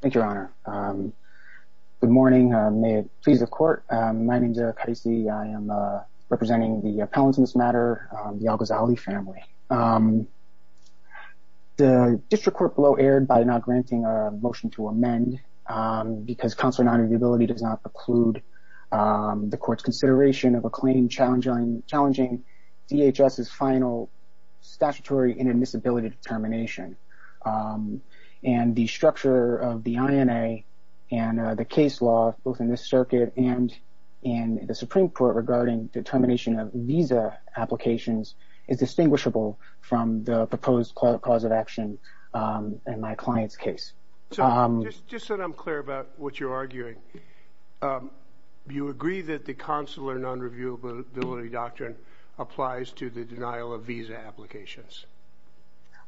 Thank you, Your Honor. Good morning. May it please the Court. My name is Eric Heise. I am representing the appellants in this matter, the Algzaly family. The District Court below erred by not granting a motion to amend because counsel's non-reviewability does not preclude the Court's consideration of a claim challenging DHS's final statutory inadmissibility determination. And the structure of the INA and the case law both in this circuit and in the Supreme Court regarding determination of visa applications is distinguishable from the proposed cause of action in my client's case. So just so that I'm clear about what you're arguing, you agree that the consular non-reviewability doctrine applies to the denial of visa applications?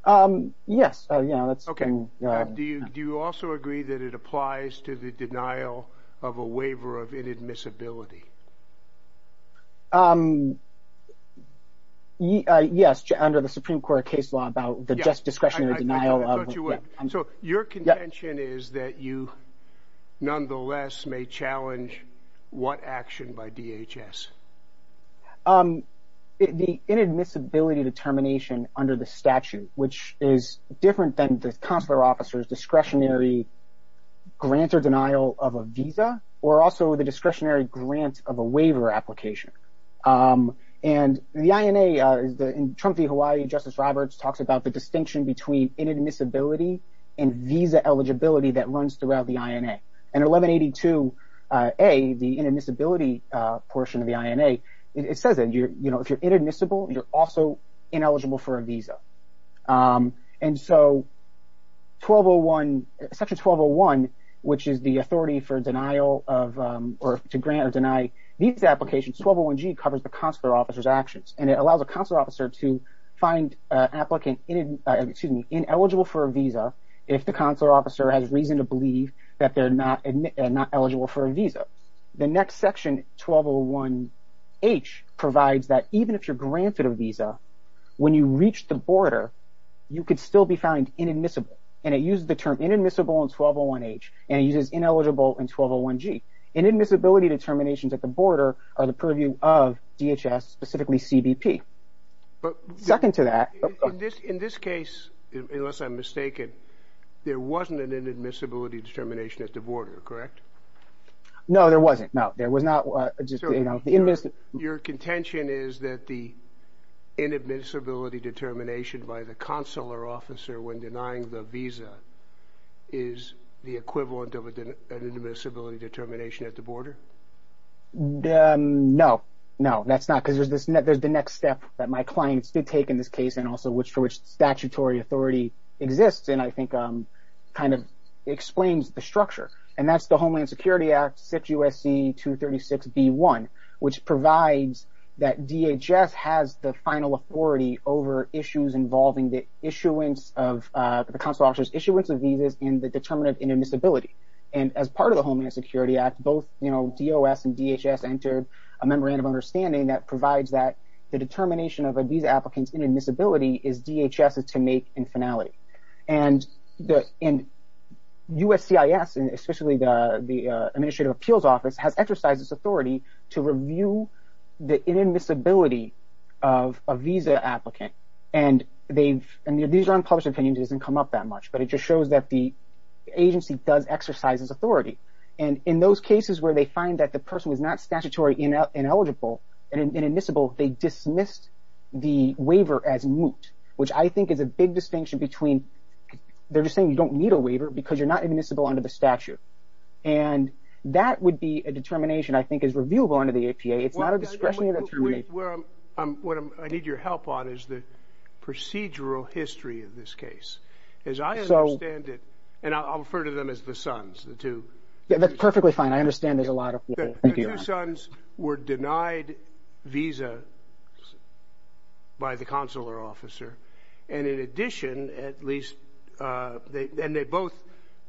Eric Heise Yes. Do you also agree that it applies to the denial of a waiver of inadmissibility? Eric Heise Yes, under the Supreme Court case law about the discretionary denial. So your contention is that you nonetheless may challenge what action by DHS? Eric Heise The inadmissibility determination under the statute, which is different than the consular officer's discretionary grant or denial of a visa or also the discretionary grant of a waiver application. And the INA, in Trump v. Hawaii, Justice Roberts talks about the distinction between inadmissibility and visa eligibility that runs throughout the INA. And 1182A, the inadmissibility portion of the INA, it says that if you're inadmissible, you're also ineligible for a visa. And so Section 1201, which is the authority for denial of or to grant or deny visa applications, 1201G covers the consular officer's actions. And it allows a consular officer to find an applicant ineligible for a visa if the consular officer has reason to believe that they're not eligible for a visa. The next section, 1201H, provides that even if you're granted a visa, when you reach the border, you could still be found inadmissible. And it uses the term inadmissible in 1201H and it uses ineligible in 1201G. Inadmissibility determinations at the border are the purview of DHS, specifically CBP. Second to that... In this case, unless I'm mistaken, there wasn't an inadmissibility determination at the border, correct? No, there wasn't. No, there was not. Your contention is that the inadmissibility determination by the consular officer when denying the visa is the equivalent of an inadmissibility determination at the border? No. No, that's not. Because there's the next step that my clients did take in this case and also for which statutory authority exists and I think kind of explains the structure. And that's the Homeland Security Act, 6 U.S.C. 236b.1, which provides that DHS has the final authority over issues involving the issuance of... the consular officer's issuance of visas and the determination of inadmissibility. And as part of the Homeland Security Act, both, you know, DOS and DHS entered a memorandum of understanding that provides that the determination of a visa applicant's inadmissibility is DHS's to make infinality. And U.S.C.I.S., especially the Administrative Appeals Office, has exercised this authority to review the inadmissibility of a visa applicant. And these are unpublished opinions. It doesn't come up that much, but it just shows that the agency does exercise this authority. And in those cases where they find that the person was not statutory ineligible and inadmissible, they dismissed the waiver as moot, which I think is a big distinction between... they're just saying you don't need a waiver because you're not inadmissible under the statute. And that would be a determination I think is reviewable under the APA. It's not a discretionary determination. What I need your help on is the procedural history of this case. As I understand it... and I'll refer to them as the sons, the two... Yeah, that's perfectly fine. I understand there's a lot of... The two sons were denied visas by the consular officer. And in addition, at least... and they both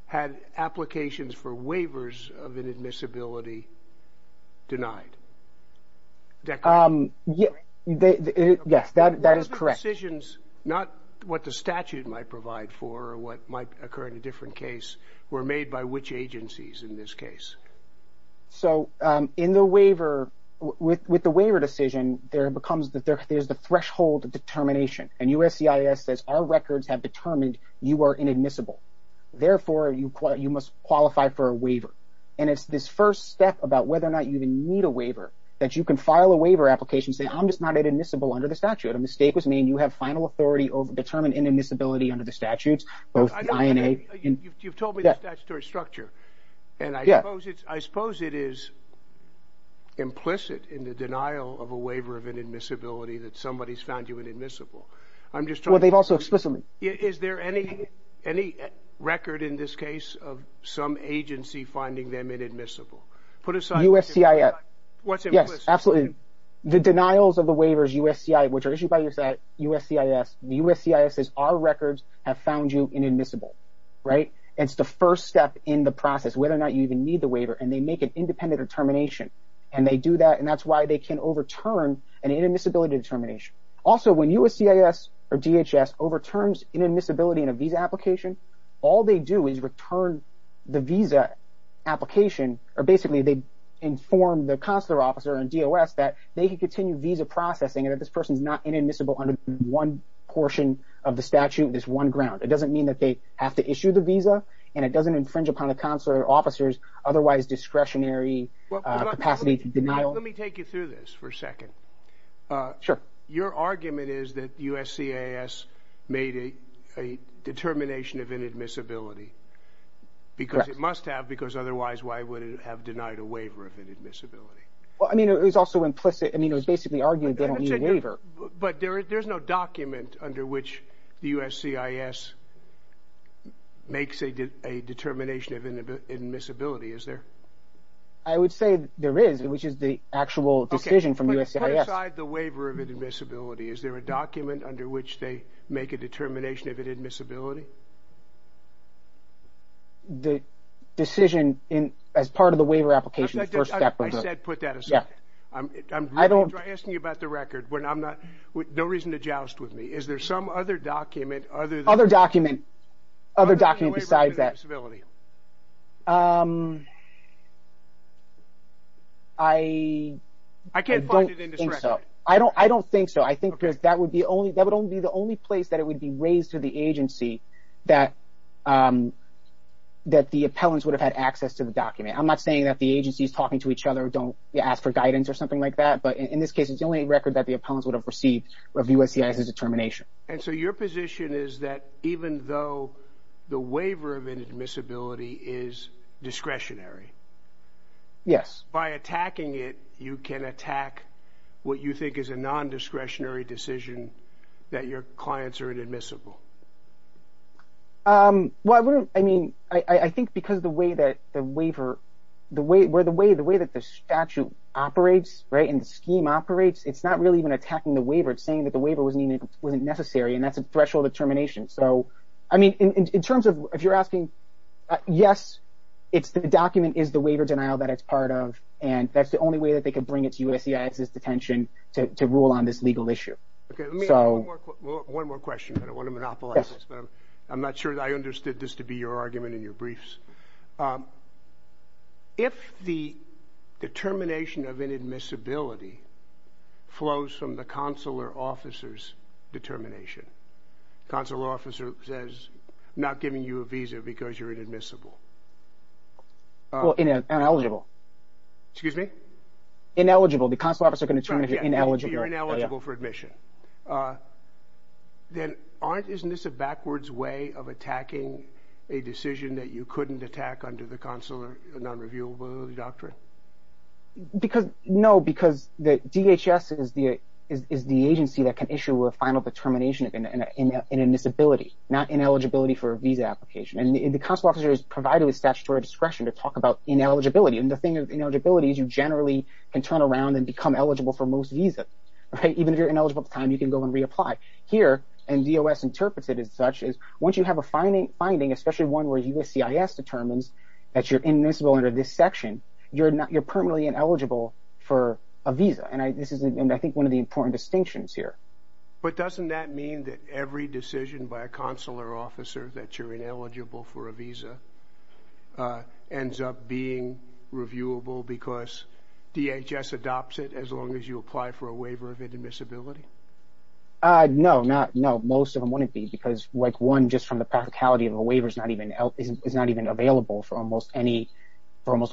had applications for waivers of inadmissibility denied. Yes, that is correct. What other decisions, not what the statute might provide for or what might occur in a different case, were made by which agencies in this case? So in the waiver... with the waiver decision, there becomes... there's the threshold determination. And USCIS says our records have determined you are inadmissible. Therefore, you must qualify for a waiver. And it's this first step about whether or not you even need a waiver that you can file a waiver application saying I'm just not inadmissible under the statute. A mistake was made. You have final authority over determined inadmissibility under the statutes, both INA... You've told me the statutory structure. And I suppose it is implicit in the denial of a waiver of inadmissibility that somebody's found you inadmissible. I'm just trying to... Well, they've also explicitly... Is there any record in this case of some agency finding them inadmissible? Put aside... USCIS. What's implicit? Yes, absolutely. The denials of the waivers, USCIS, which are issued by USCIS, USCIS says our records have found you inadmissible. Right? It's the first step in the process, whether or not you even need the waiver. And they make an independent determination. And they do that, and that's why they can overturn an inadmissibility determination. Also, when USCIS or DHS overturns inadmissibility in a visa application, all they do is return the visa application... Basically, they inform the consular officer in DOS that they can continue visa processing and that this person's not inadmissible under one portion of the statute, this one ground. It doesn't mean that they have to issue the visa, and it doesn't infringe upon the consular officer's otherwise discretionary capacity to denial. Let me take you through this for a second. Sure. Your argument is that USCIS made a determination of inadmissibility. Correct. Because it must have, because otherwise why would it have denied a waiver of inadmissibility? Well, I mean, it was also implicit. I mean, it was basically argued they don't need a waiver. But there's no document under which the USCIS makes a determination of inadmissibility, is there? I would say there is, which is the actual decision from USCIS. Okay, but put aside the waiver of inadmissibility. Is there a document under which they make a determination of inadmissibility? The decision as part of the waiver application, the first step. I said put that aside. Yeah. I'm asking you about the record. No reason to joust with me. Is there some other document other than the waiver of inadmissibility? Other document besides that. I can't find it in this record. I don't think so. I think that would be the only place that it would be raised to the agency that the appellants would have had access to the document. I'm not saying that the agencies talking to each other don't ask for guidance or something like that. But in this case, it's the only record that the appellants would have received of USCIS's determination. And so your position is that even though the waiver of inadmissibility is discretionary. Yes. By attacking it, you can attack what you think is a nondiscretionary decision that your clients are inadmissible. Well, I mean, I think because the way that the waiver, the way that the statute operates, right, and the scheme operates, it's not really even attacking the waiver. It's saying that the waiver wasn't necessary, and that's a threshold of termination. So, I mean, in terms of if you're asking, yes, the document is the waiver denial that it's part of, and that's the only way that they can bring it to USCIS's detention to rule on this legal issue. Okay, let me ask one more question. I don't want to monopolize this, but I'm not sure that I understood this to be your argument in your briefs. If the determination of inadmissibility flows from the consular officer's determination, consular officer says, I'm not giving you a visa because you're inadmissible. Well, ineligible. Excuse me? Ineligible. The consular officer can determine if you're ineligible. You're ineligible for admission. Then aren't, isn't this a backwards way of attacking a decision that you couldn't attack under the consular nonreviewable doctrine? No, because DHS is the agency that can issue a final determination of inadmissibility, not ineligibility for a visa application. And the consular officer is provided with statutory discretion to talk about ineligibility. And the thing with ineligibility is you generally can turn around and become eligible for most visas. Even if you're ineligible at the time, you can go and reapply. Here, and DOS interprets it as such, is once you have a finding, especially one where USCIS determines that you're inadmissible under this section, you're permanently ineligible for a visa. And this is, I think, one of the important distinctions here. But doesn't that mean that every decision by a consular officer that you're ineligible for a visa ends up being reviewable because DHS adopts it as long as you apply for a waiver of inadmissibility? No, most of them wouldn't be. Because one, just from the practicality of a waiver, is not even available for almost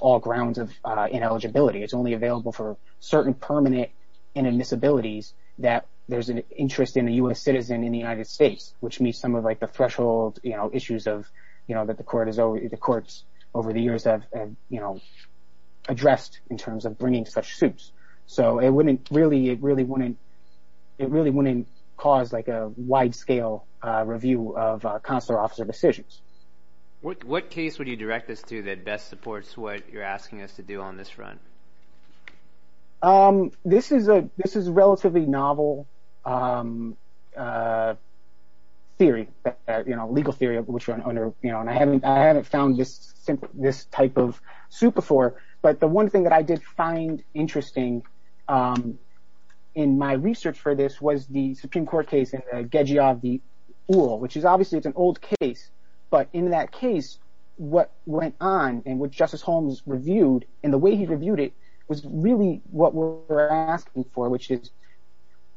all grounds of ineligibility. It's only available for certain permanent inadmissibilities that there's an interest in a U.S. citizen in the United States, which meets some of the threshold issues that the courts over the years have addressed in terms of bringing such suits. So it really wouldn't cause a wide-scale review of consular officer decisions. What case would you direct us to that best supports what you're asking us to do on this front? This is a relatively novel theory, legal theory, which I haven't found this type of suit before. But the one thing that I did find interesting in my research for this was the Supreme Court case, the Gagiev v. Uhl, which is obviously it's an old case. But in that case, what went on and what Justice Holmes reviewed and the way he reviewed it was really what we're asking for, which is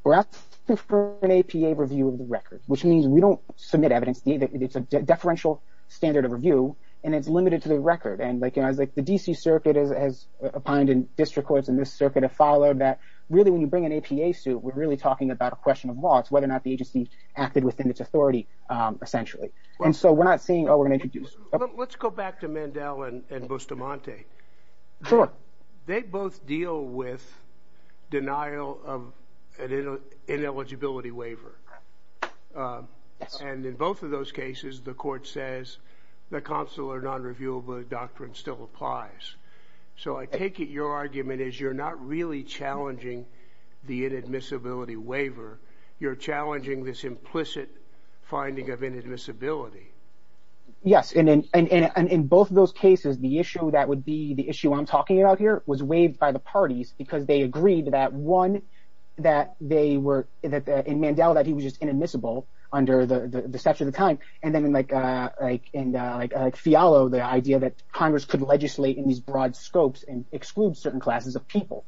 we're asking for an APA review of the record, which means we don't submit evidence. It's a deferential standard of review, and it's limited to the record. And the D.C. Circuit has opined and district courts in this circuit have followed that really when you bring an APA suit, we're really talking about a question of law. It's whether or not the agency acted within its authority, essentially. And so we're not saying, oh, we're going to introduce. Let's go back to Mandel and Bustamante. Sure. They both deal with denial of an ineligibility waiver. And in both of those cases, the court says the consular nonreviewable doctrine still applies. So I take it your argument is you're not really challenging the inadmissibility waiver. You're challenging this implicit finding of inadmissibility. Yes, and in both of those cases, the issue that would be the issue I'm talking about here was waived by the parties because they agreed that, one, in Mandel that he was just inadmissible under the statute of the time, and then in Fialo, the idea that Congress could legislate in these broad scopes and exclude certain classes of people.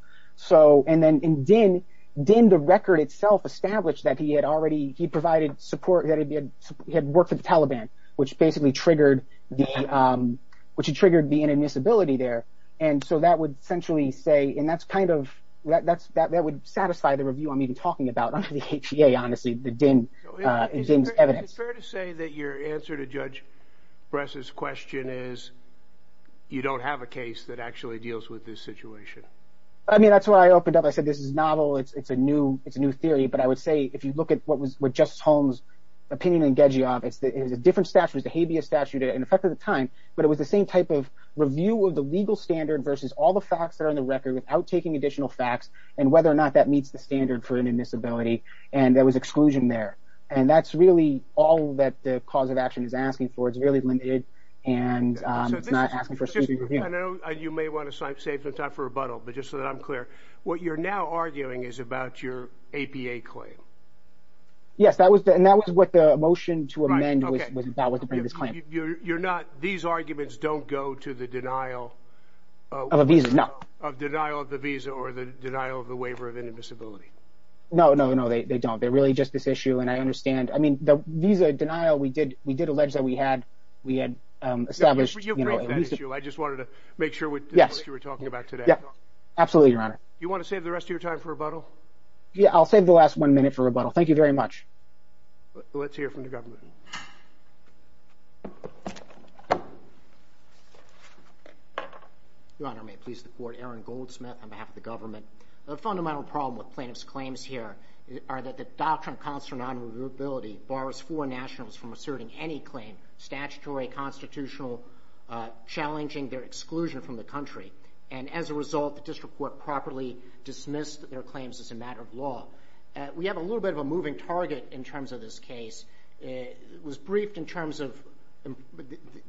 And then in Dinh, Dinh the record itself established that he had worked for the Taliban, which basically triggered the inadmissibility there. And so that would essentially say, and that's kind of, that would satisfy the review I'm even talking about under the HTA, honestly, the Dinh's evidence. Is it fair to say that your answer to Judge Bress's question is you don't have a case that actually deals with this situation? I mean, that's where I opened up. I said this is novel. It's a new theory. But I would say if you look at what Justice Holmes' opinion in Gejiov, it was a different statute. It was a habeas statute in effect at the time. But it was the same type of review of the legal standard versus all the facts that are in the record without taking additional facts and whether or not that meets the standard for inadmissibility, and there was exclusion there. And that's really all that the cause of action is asking for. It's really limited, and it's not asking for a specific review. I know you may want to save some time for rebuttal, but just so that I'm clear, what you're now arguing is about your APA claim. Yes, and that was what the motion to amend was about, was to bring this claim. You're not – these arguments don't go to the denial of the visa or the denial of the waiver of inadmissibility? No, no, no, they don't. They're really just this issue, and I understand. I mean, the visa denial, we did allege that we had established. You've raised that issue. I just wanted to make sure this is what you were talking about today. Yes, absolutely, Your Honor. Do you want to save the rest of your time for rebuttal? Yeah, I'll save the last one minute for rebuttal. Thank you very much. Let's hear from the government. Your Honor, may it please the Court, Aaron Goldsmith on behalf of the government. A fundamental problem with plaintiff's claims here are that the doctrine of constitutional non-reviewability bars foreign nationals from asserting any claim, statutory, constitutional, challenging their exclusion from the country. And as a result, the district court properly dismissed their claims as a matter of law. We have a little bit of a moving target in terms of this case. It was briefed in terms of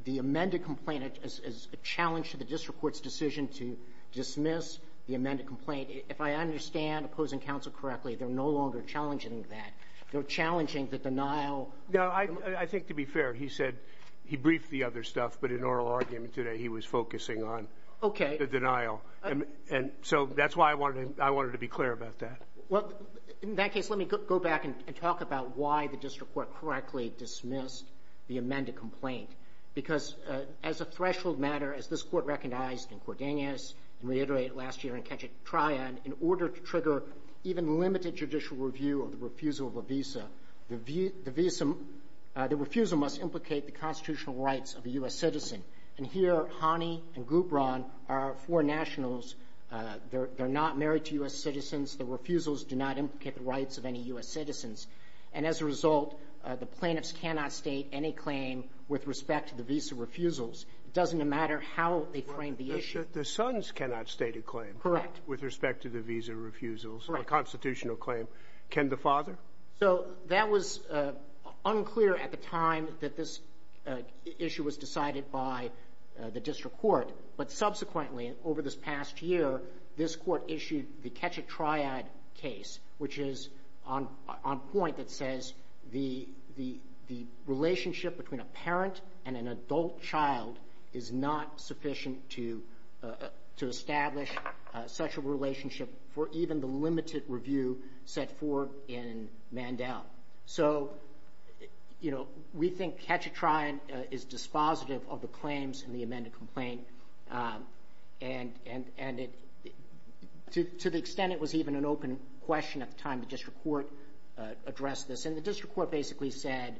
the amended complaint as a challenge to the district court's decision to dismiss the amended complaint. If I understand opposing counsel correctly, they're no longer challenging that. They're challenging the denial. No, I think to be fair, he said he briefed the other stuff, but in oral argument today, he was focusing on the denial. Okay. And so that's why I wanted to be clear about that. Well, in that case, let me go back and talk about why the district court correctly dismissed the amended complaint. Because as a threshold matter, as this Court recognized in Cordenas and reiterated last year in Ketchatrya, in order to trigger even limited judicial review of the refusal of a visa, the refusal must implicate the constitutional rights of a U.S. citizen. And here, Hani and Gubran are foreign nationals. They're not married to U.S. citizens. The refusals do not implicate the rights of any U.S. citizens. And as a result, the plaintiffs cannot state any claim with respect to the visa refusals. It doesn't matter how they frame the issue. The sons cannot state a claim with respect to the visa refusals, a constitutional claim. Correct. Can the father? So that was unclear at the time that this issue was decided by the district court. But subsequently, over this past year, this court issued the Ketchatryad case, which is on point that says the relationship between a parent and an adult child is not sufficient to establish such a relationship for even the limited review set forth in Mandel. So, you know, we think Ketchatryad is dispositive of the claims in the amended complaint. And to the extent it was even an open question at the time the district court addressed this. And the district court basically said,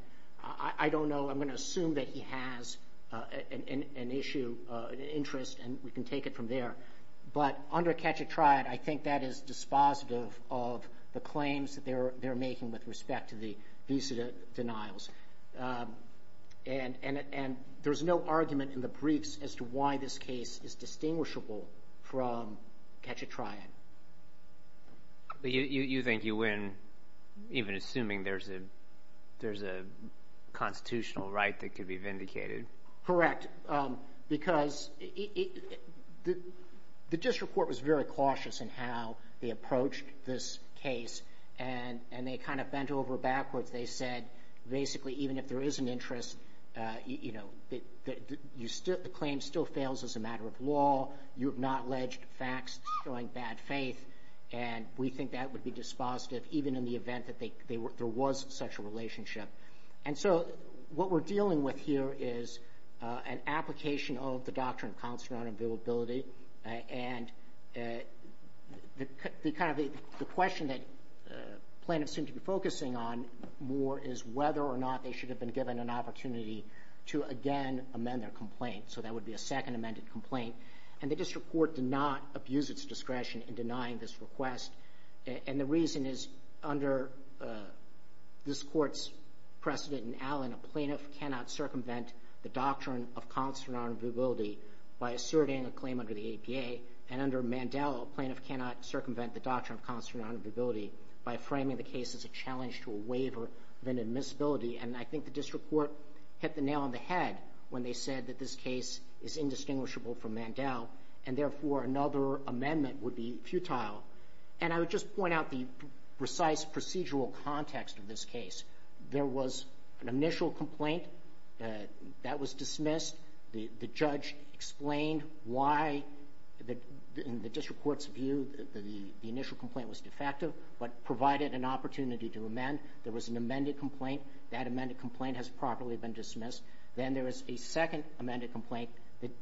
I don't know. I'm going to assume that he has an issue, an interest, and we can take it from there. But under Ketchatryad, I think that is dispositive of the claims that they're making with respect to the visa denials. And there's no argument in the briefs as to why this case is distinguishable from Ketchatryad. You think you win even assuming there's a constitutional right that could be vindicated? Correct. Because the district court was very cautious in how they approached this case, and they kind of bent over backwards. They said basically even if there is an interest, you know, the claim still fails as a matter of law. You have not alleged facts showing bad faith, and we think that would be dispositive, even in the event that there was such a relationship. And so what we're dealing with here is an application of the Doctrine of Consonant Availability, and the question that plaintiffs seem to be focusing on more is whether or not they should have been given an opportunity to again amend their complaint. So that would be a second amended complaint. And the district court did not abuse its discretion in denying this request. And the reason is under this court's precedent in Allen, a plaintiff cannot circumvent the Doctrine of Consonant Availability by asserting a claim under the APA. And under Mandel, a plaintiff cannot circumvent the Doctrine of Consonant Availability by framing the case as a challenge to a waiver of inadmissibility. And I think the district court hit the nail on the head when they said that this case is indistinguishable from Mandel, and therefore another amendment would be futile. And I would just point out the precise procedural context of this case. There was an initial complaint that was dismissed. The judge explained why, in the district court's view, the initial complaint was defective, but provided an opportunity to amend. There was an amended complaint. That amended complaint has properly been dismissed. Then there was a second amended complaint.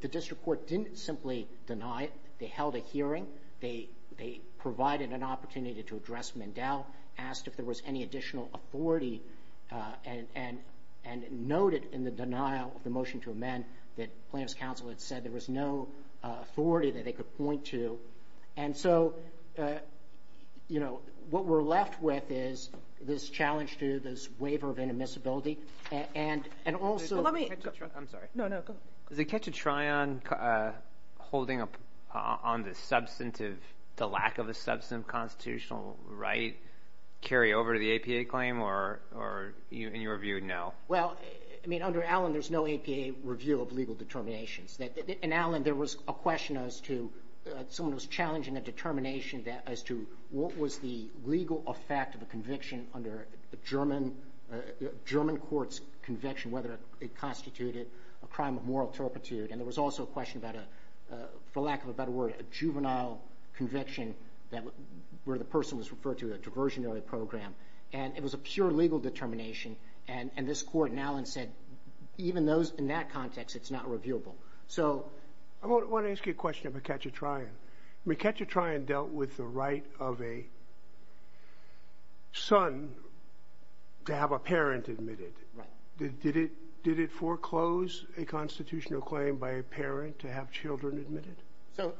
The district court didn't simply deny it. They held a hearing. They provided an opportunity to address Mandel, asked if there was any additional authority, and noted in the denial of the motion to amend that plaintiff's counsel had said there was no authority that they could point to. And so, you know, what we're left with is this challenge to this waiver of inadmissibility. And also ‑‑ I'm sorry. No, no, go ahead. Does it catch a try on holding up on the substantive, the lack of a substantive constitutional right, carry over to the APA claim, or in your view, no? Well, I mean, under Allen, there's no APA review of legal determinations. In Allen, there was a question as to someone was challenging a determination as to what was the legal effect of a conviction under a German court's conviction, whether it constituted a crime of moral turpitude. And there was also a question about a, for lack of a better word, a juvenile conviction where the person was referred to a diversionary program. And it was a pure legal determination. And this court in Allen said even in that context, it's not reviewable. So ‑‑ I want to ask you a question about catch a trying. Catch a trying dealt with the right of a son to have a parent admitted. Right. Did it foreclose a constitutional claim by a parent to have children admitted?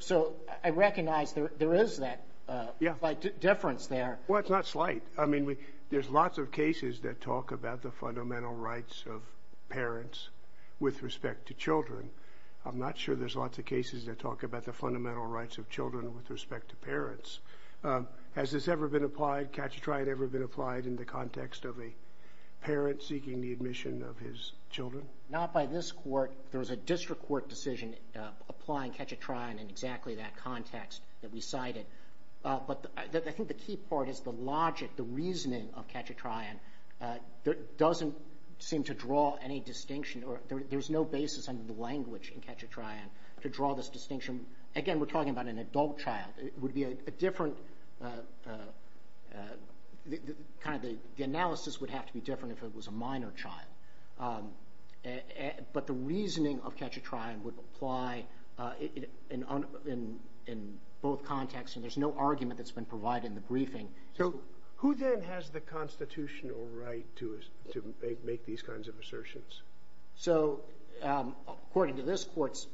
So, I recognize there is that slight difference there. Well, it's not slight. I mean, there's lots of cases that talk about the fundamental rights of parents with respect to children. I'm not sure there's lots of cases that talk about the fundamental rights of children with respect to parents. Has this ever been applied, catch a trying ever been applied in the context of a parent seeking the admission of his children? Not by this court. There was a district court decision applying catch a trying in exactly that context that we cited. But I think the key part is the logic, the reasoning of catch a trying doesn't seem to draw any distinction. There's no basis under the language in catch a trying to draw this distinction. Again, we're talking about an adult child. It would be a different, kind of the analysis would have to be different if it was a minor child. But the reasoning of catch a trying would apply in both contexts and there's no argument that's been provided in the briefing. So, who then has the constitutional right to make these kinds of assertions? So, according to this court's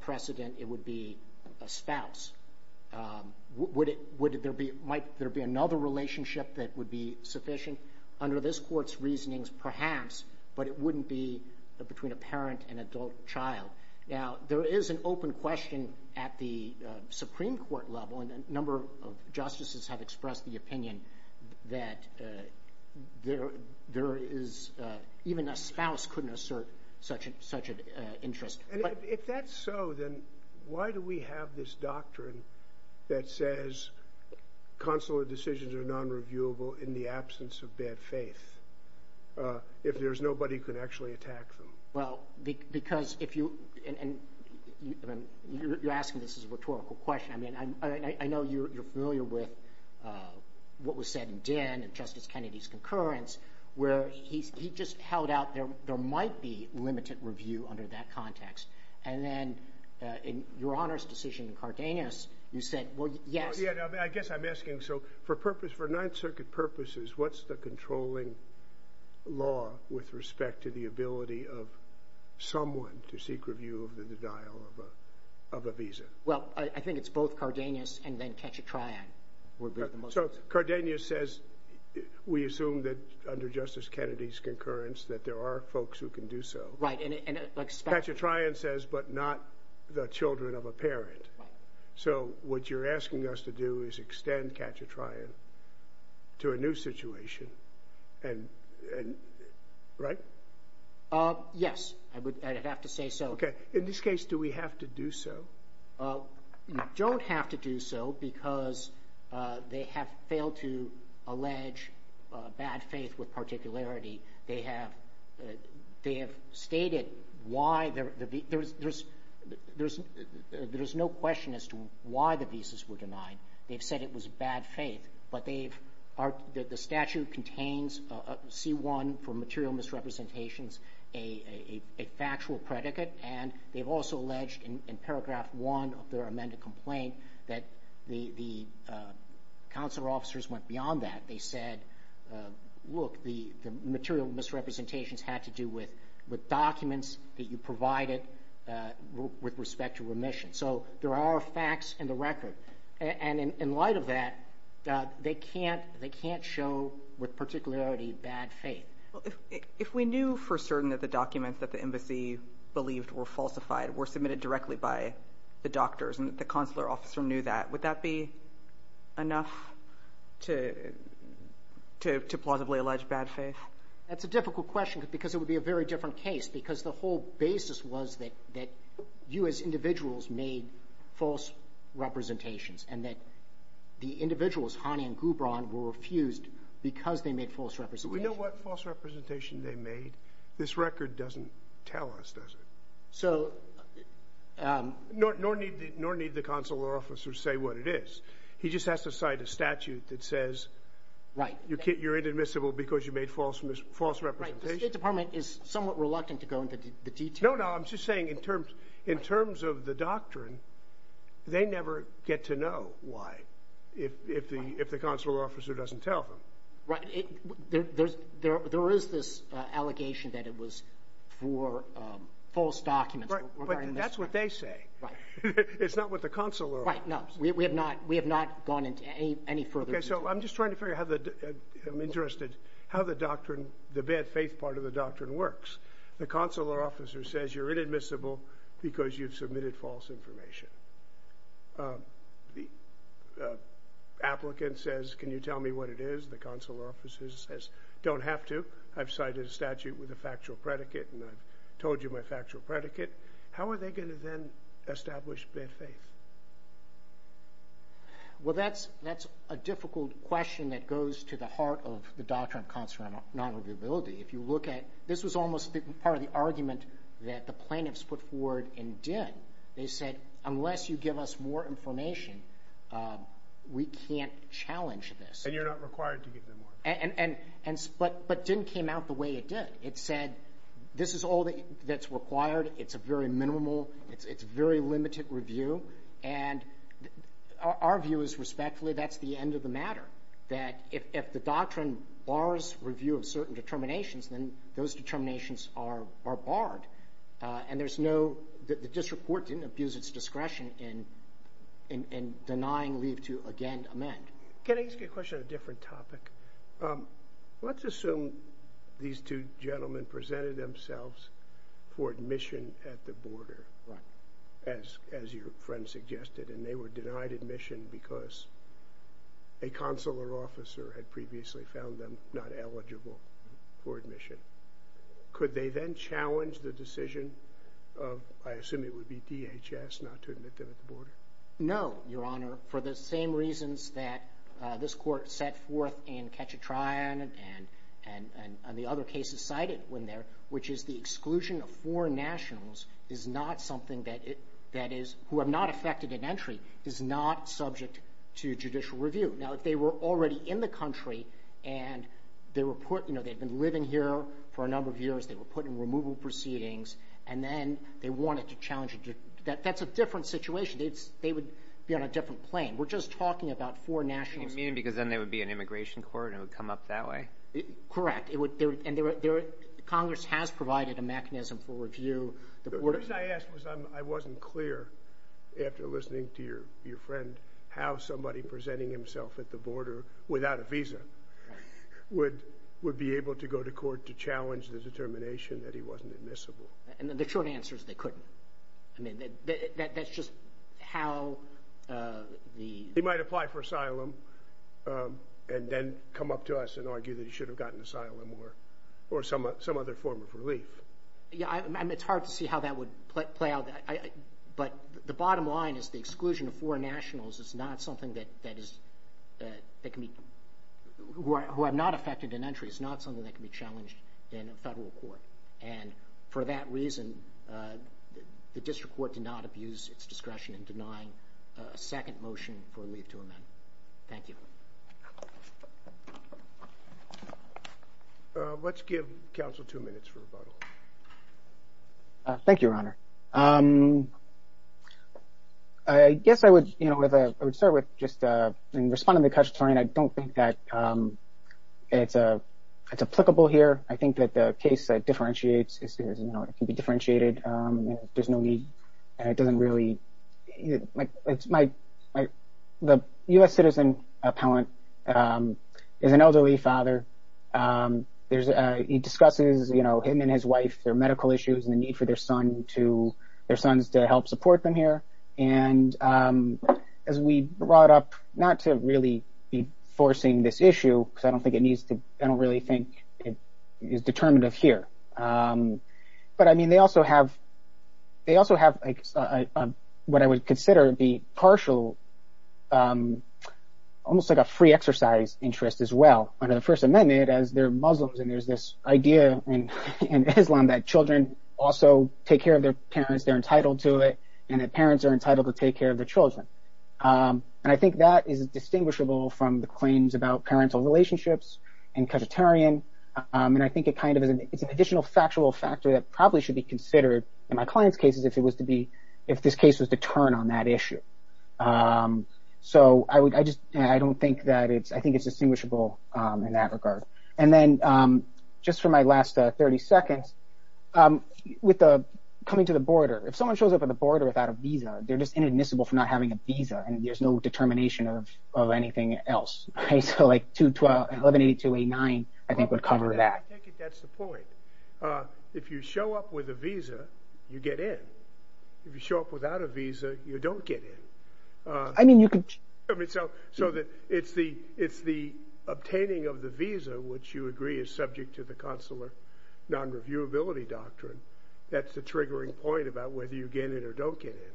precedent, it would be a spouse. Would it, would there be, might there be another relationship that would be sufficient? Under this court's reasonings, perhaps, but it wouldn't be between a parent and adult child. Now, there is an open question at the Supreme Court level and a number of justices have expressed the opinion that there is, even a spouse couldn't assert such an interest. If that's so, then why do we have this doctrine that says consular decisions are non-reviewable in the absence of bad faith if there's nobody who can actually attack them? Well, because if you, and you're asking this as a rhetorical question. I mean, I know you're familiar with what was said in Dinn and Justice Kennedy's concurrence where he just held out there might be limited review under that context. And then in Your Honor's decision in Cardenas, you said, well, yes. I guess I'm asking, so for purpose, for Ninth Circuit purposes, what's the controlling law with respect to the ability of someone to seek review of the denial of a visa? Well, I think it's both Cardenas and then Cachatrion. So, Cardenas says, we assume that under Justice Kennedy's concurrence that there are folks who can do so. Right, and it, like. Cachatrion says, but not the children of a parent. Right. So, what you're asking us to do is extend Cachatrion to a new situation and, right? Yes, I would, I'd have to say so. Okay, in this case, do we have to do so? You don't have to do so because they have failed to allege bad faith with particularity. They have, they have stated why there, there's, there's, there's, there's no question as to why the visas were denied. They've said it was bad faith, but they've, the statute contains C-1 for material misrepresentations, a factual predicate. And they've also alleged in paragraph one of their amended complaint that the, the consular officers went beyond that. They said, look, the, the material misrepresentations had to do with, with documents that you provided with respect to remission. So, there are facts in the record. And in light of that, they can't, they can't show with particularity bad faith. Well, if, if we knew for certain that the documents that the embassy believed were falsified were submitted directly by the doctors and the consular officer knew that, would that be enough to, to, to plausibly allege bad faith? That's a difficult question because it would be a very different case because the whole basis was that, that you as individuals made false representations and that the individuals, Hani and Gubran, were refused because they made false representations. But we know what false representation they made. This record doesn't tell us, does it? So... Nor, nor need the, nor need the consular officer say what it is. He just has to cite a statute that says... Right. You're inadmissible because you made false, false representations. Right, the State Department is somewhat reluctant to go into the details. No, no, I'm just saying in terms, in terms of the doctrine, they never get to know why if, if the, if the consular officer doesn't tell them. Right, it, there, there's, there, there is this allegation that it was for false documents. Right, but that's what they say. Right. It's not what the consular officer says. Right, no, we, we have not, we have not gone into any, any further detail. Okay, so I'm just trying to figure out how the, I'm interested how the doctrine, the bad faith part of the doctrine works. The consular officer says you're inadmissible because you've submitted false information. The applicant says can you tell me what it is? The consular officer says don't have to. I've cited a statute with a factual predicate and I've told you my factual predicate. How are they going to then establish bad faith? Well, that's, that's a difficult question that goes to the heart of the doctrine of consular non-reviewability. If you look at, this was almost part of the argument that the plaintiffs put forward and did. They said unless you give us more information, we can't challenge this. And you're not required to give them more. And, and, and, but, but didn't came out the way it did. It said this is all that's required. It's a very minimal, it's, it's very limited review. And our view is respectfully that's the end of the matter. That if, if the doctrine bars review of certain determinations, then those determinations are, are barred. And there's no, the district court didn't abuse its discretion in, in denying leave to again amend. Can I ask you a question on a different topic? Let's assume these two gentlemen presented themselves for admission at the border. Right. As, as your friend suggested. And they were denied admission because a consular officer had previously found them not eligible for admission. Could they then challenge the decision of, I assume it would be DHS not to admit them at the border? No, your honor. For the same reasons that this court set forth in Ketchatrion and, and, and, and the other cases cited when there, which is the exclusion of foreign nationals is not something that it, that is, who have not affected an entry, is not subject to judicial review. Now, if they were already in the country and they were put, you know, they'd been living here for a number of years, they were put in removal proceedings, and then they wanted to challenge it, that, that's a different situation. It's, they would be on a different plane. We're just talking about foreign nationals. You mean because then there would be an immigration court and it would come up that way? Correct. It would, there, and there, there, Congress has provided a mechanism for review. The reason I asked was I'm, I wasn't clear after listening to your, your friend, how somebody presenting himself at the border without a visa would, would be able to go to court to challenge the determination that he wasn't admissible. And the short answer is they couldn't. I mean, that, that, that's just how the. He might apply for asylum and then come up to us and argue that he should have gotten asylum or, or some, some other form of relief. Yeah, I, I mean, it's hard to see how that would play out. I, I, but the bottom line is the exclusion of foreign nationals is not something that, that is, that, that can be, who are, who have not affected an entry is not something that can be challenged in a federal court. And for that reason, the district court did not abuse its discretion in denying a second motion for a leave to amend. Thank you. Let's give counsel two minutes for rebuttal. Thank you, Your Honor. I guess I would, you know, with a, I would start with just responding to the question. I don't think that it's a, it's applicable here. I think that the case that differentiates is, you know, it can be differentiated. There's no need. And it doesn't really, it's my, my, the U.S. citizen appellant is an elderly father. There's, he discusses, you know, him and his wife, their medical issues and the need for their son to, their sons to help support them here. And as we brought up, not to really be forcing this issue, because I don't think it needs to, I don't really think it is determinative here. But, I mean, they also have, they also have what I would consider the partial, almost like a free exercise interest as well. Under the First Amendment, as they're Muslims, and there's this idea in Islam that children also take care of their parents. They're entitled to it. And that parents are entitled to take care of their children. And I think that is distinguishable from the claims about parental relationships in Qajartarian. And I think it kind of is an additional factual factor that probably should be considered in my client's cases if it was to be, if this case was to turn on that issue. So I would, I just, I don't think that it's, I think it's distinguishable in that regard. And then just for my last 30 seconds, with the coming to the border, if someone shows up at the border without a visa, they're just inadmissible for not having a visa. And there's no determination of anything else. So, like, 118289, I think, would cover that. I take it that's the point. If you show up with a visa, you get in. If you show up without a visa, you don't get in. I mean, you could... I mean, so it's the obtaining of the visa, which you agree is subject to the consular non-reviewability doctrine. That's the triggering point about whether you get in or don't get in.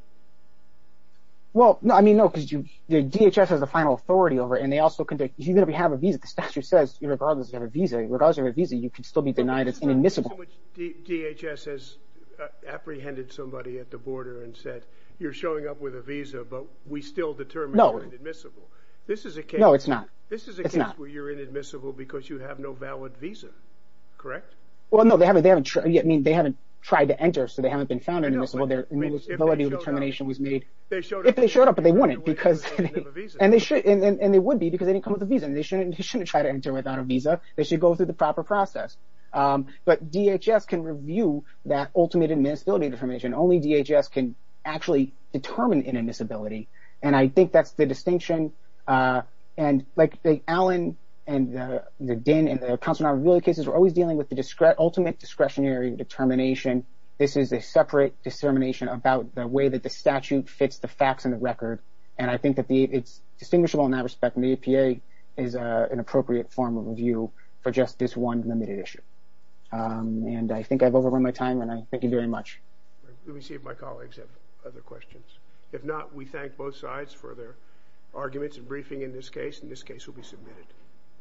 Well, no, I mean, no, because you, DHS has the final authority over it. And they also can, even if you have a visa, the statute says, regardless of your visa, you can still be denied as inadmissible. DHS has apprehended somebody at the border and said, you're showing up with a visa, but we still determine you're inadmissible. This is a case... No, it's not. This is a case where you're inadmissible because you have no valid visa. Correct? Well, no, they haven't, I mean, they haven't tried to enter, so they haven't been found inadmissible. Their inadmissibility determination was made... If they showed up. If they showed up, but they wouldn't because... And they would be because they didn't come with a visa. And they shouldn't try to enter without a visa. They should go through the proper process. But DHS can review that ultimate inadmissibility determination. Only DHS can actually determine inadmissibility. And I think that's the distinction. And, like, the Allen and the Dinh and the consular non-reviewability cases are always dealing with the ultimate discretionary determination. This is a separate dissemination about the way that the statute fits the facts in the record. And I think that it's distinguishable in that respect. And the APA is an appropriate form of review for just this one limited issue. And I think I've overrun my time, and I thank you very much. Let me see if my colleagues have other questions. If not, we thank both sides for their arguments and briefing in this case. And this case will be submitted.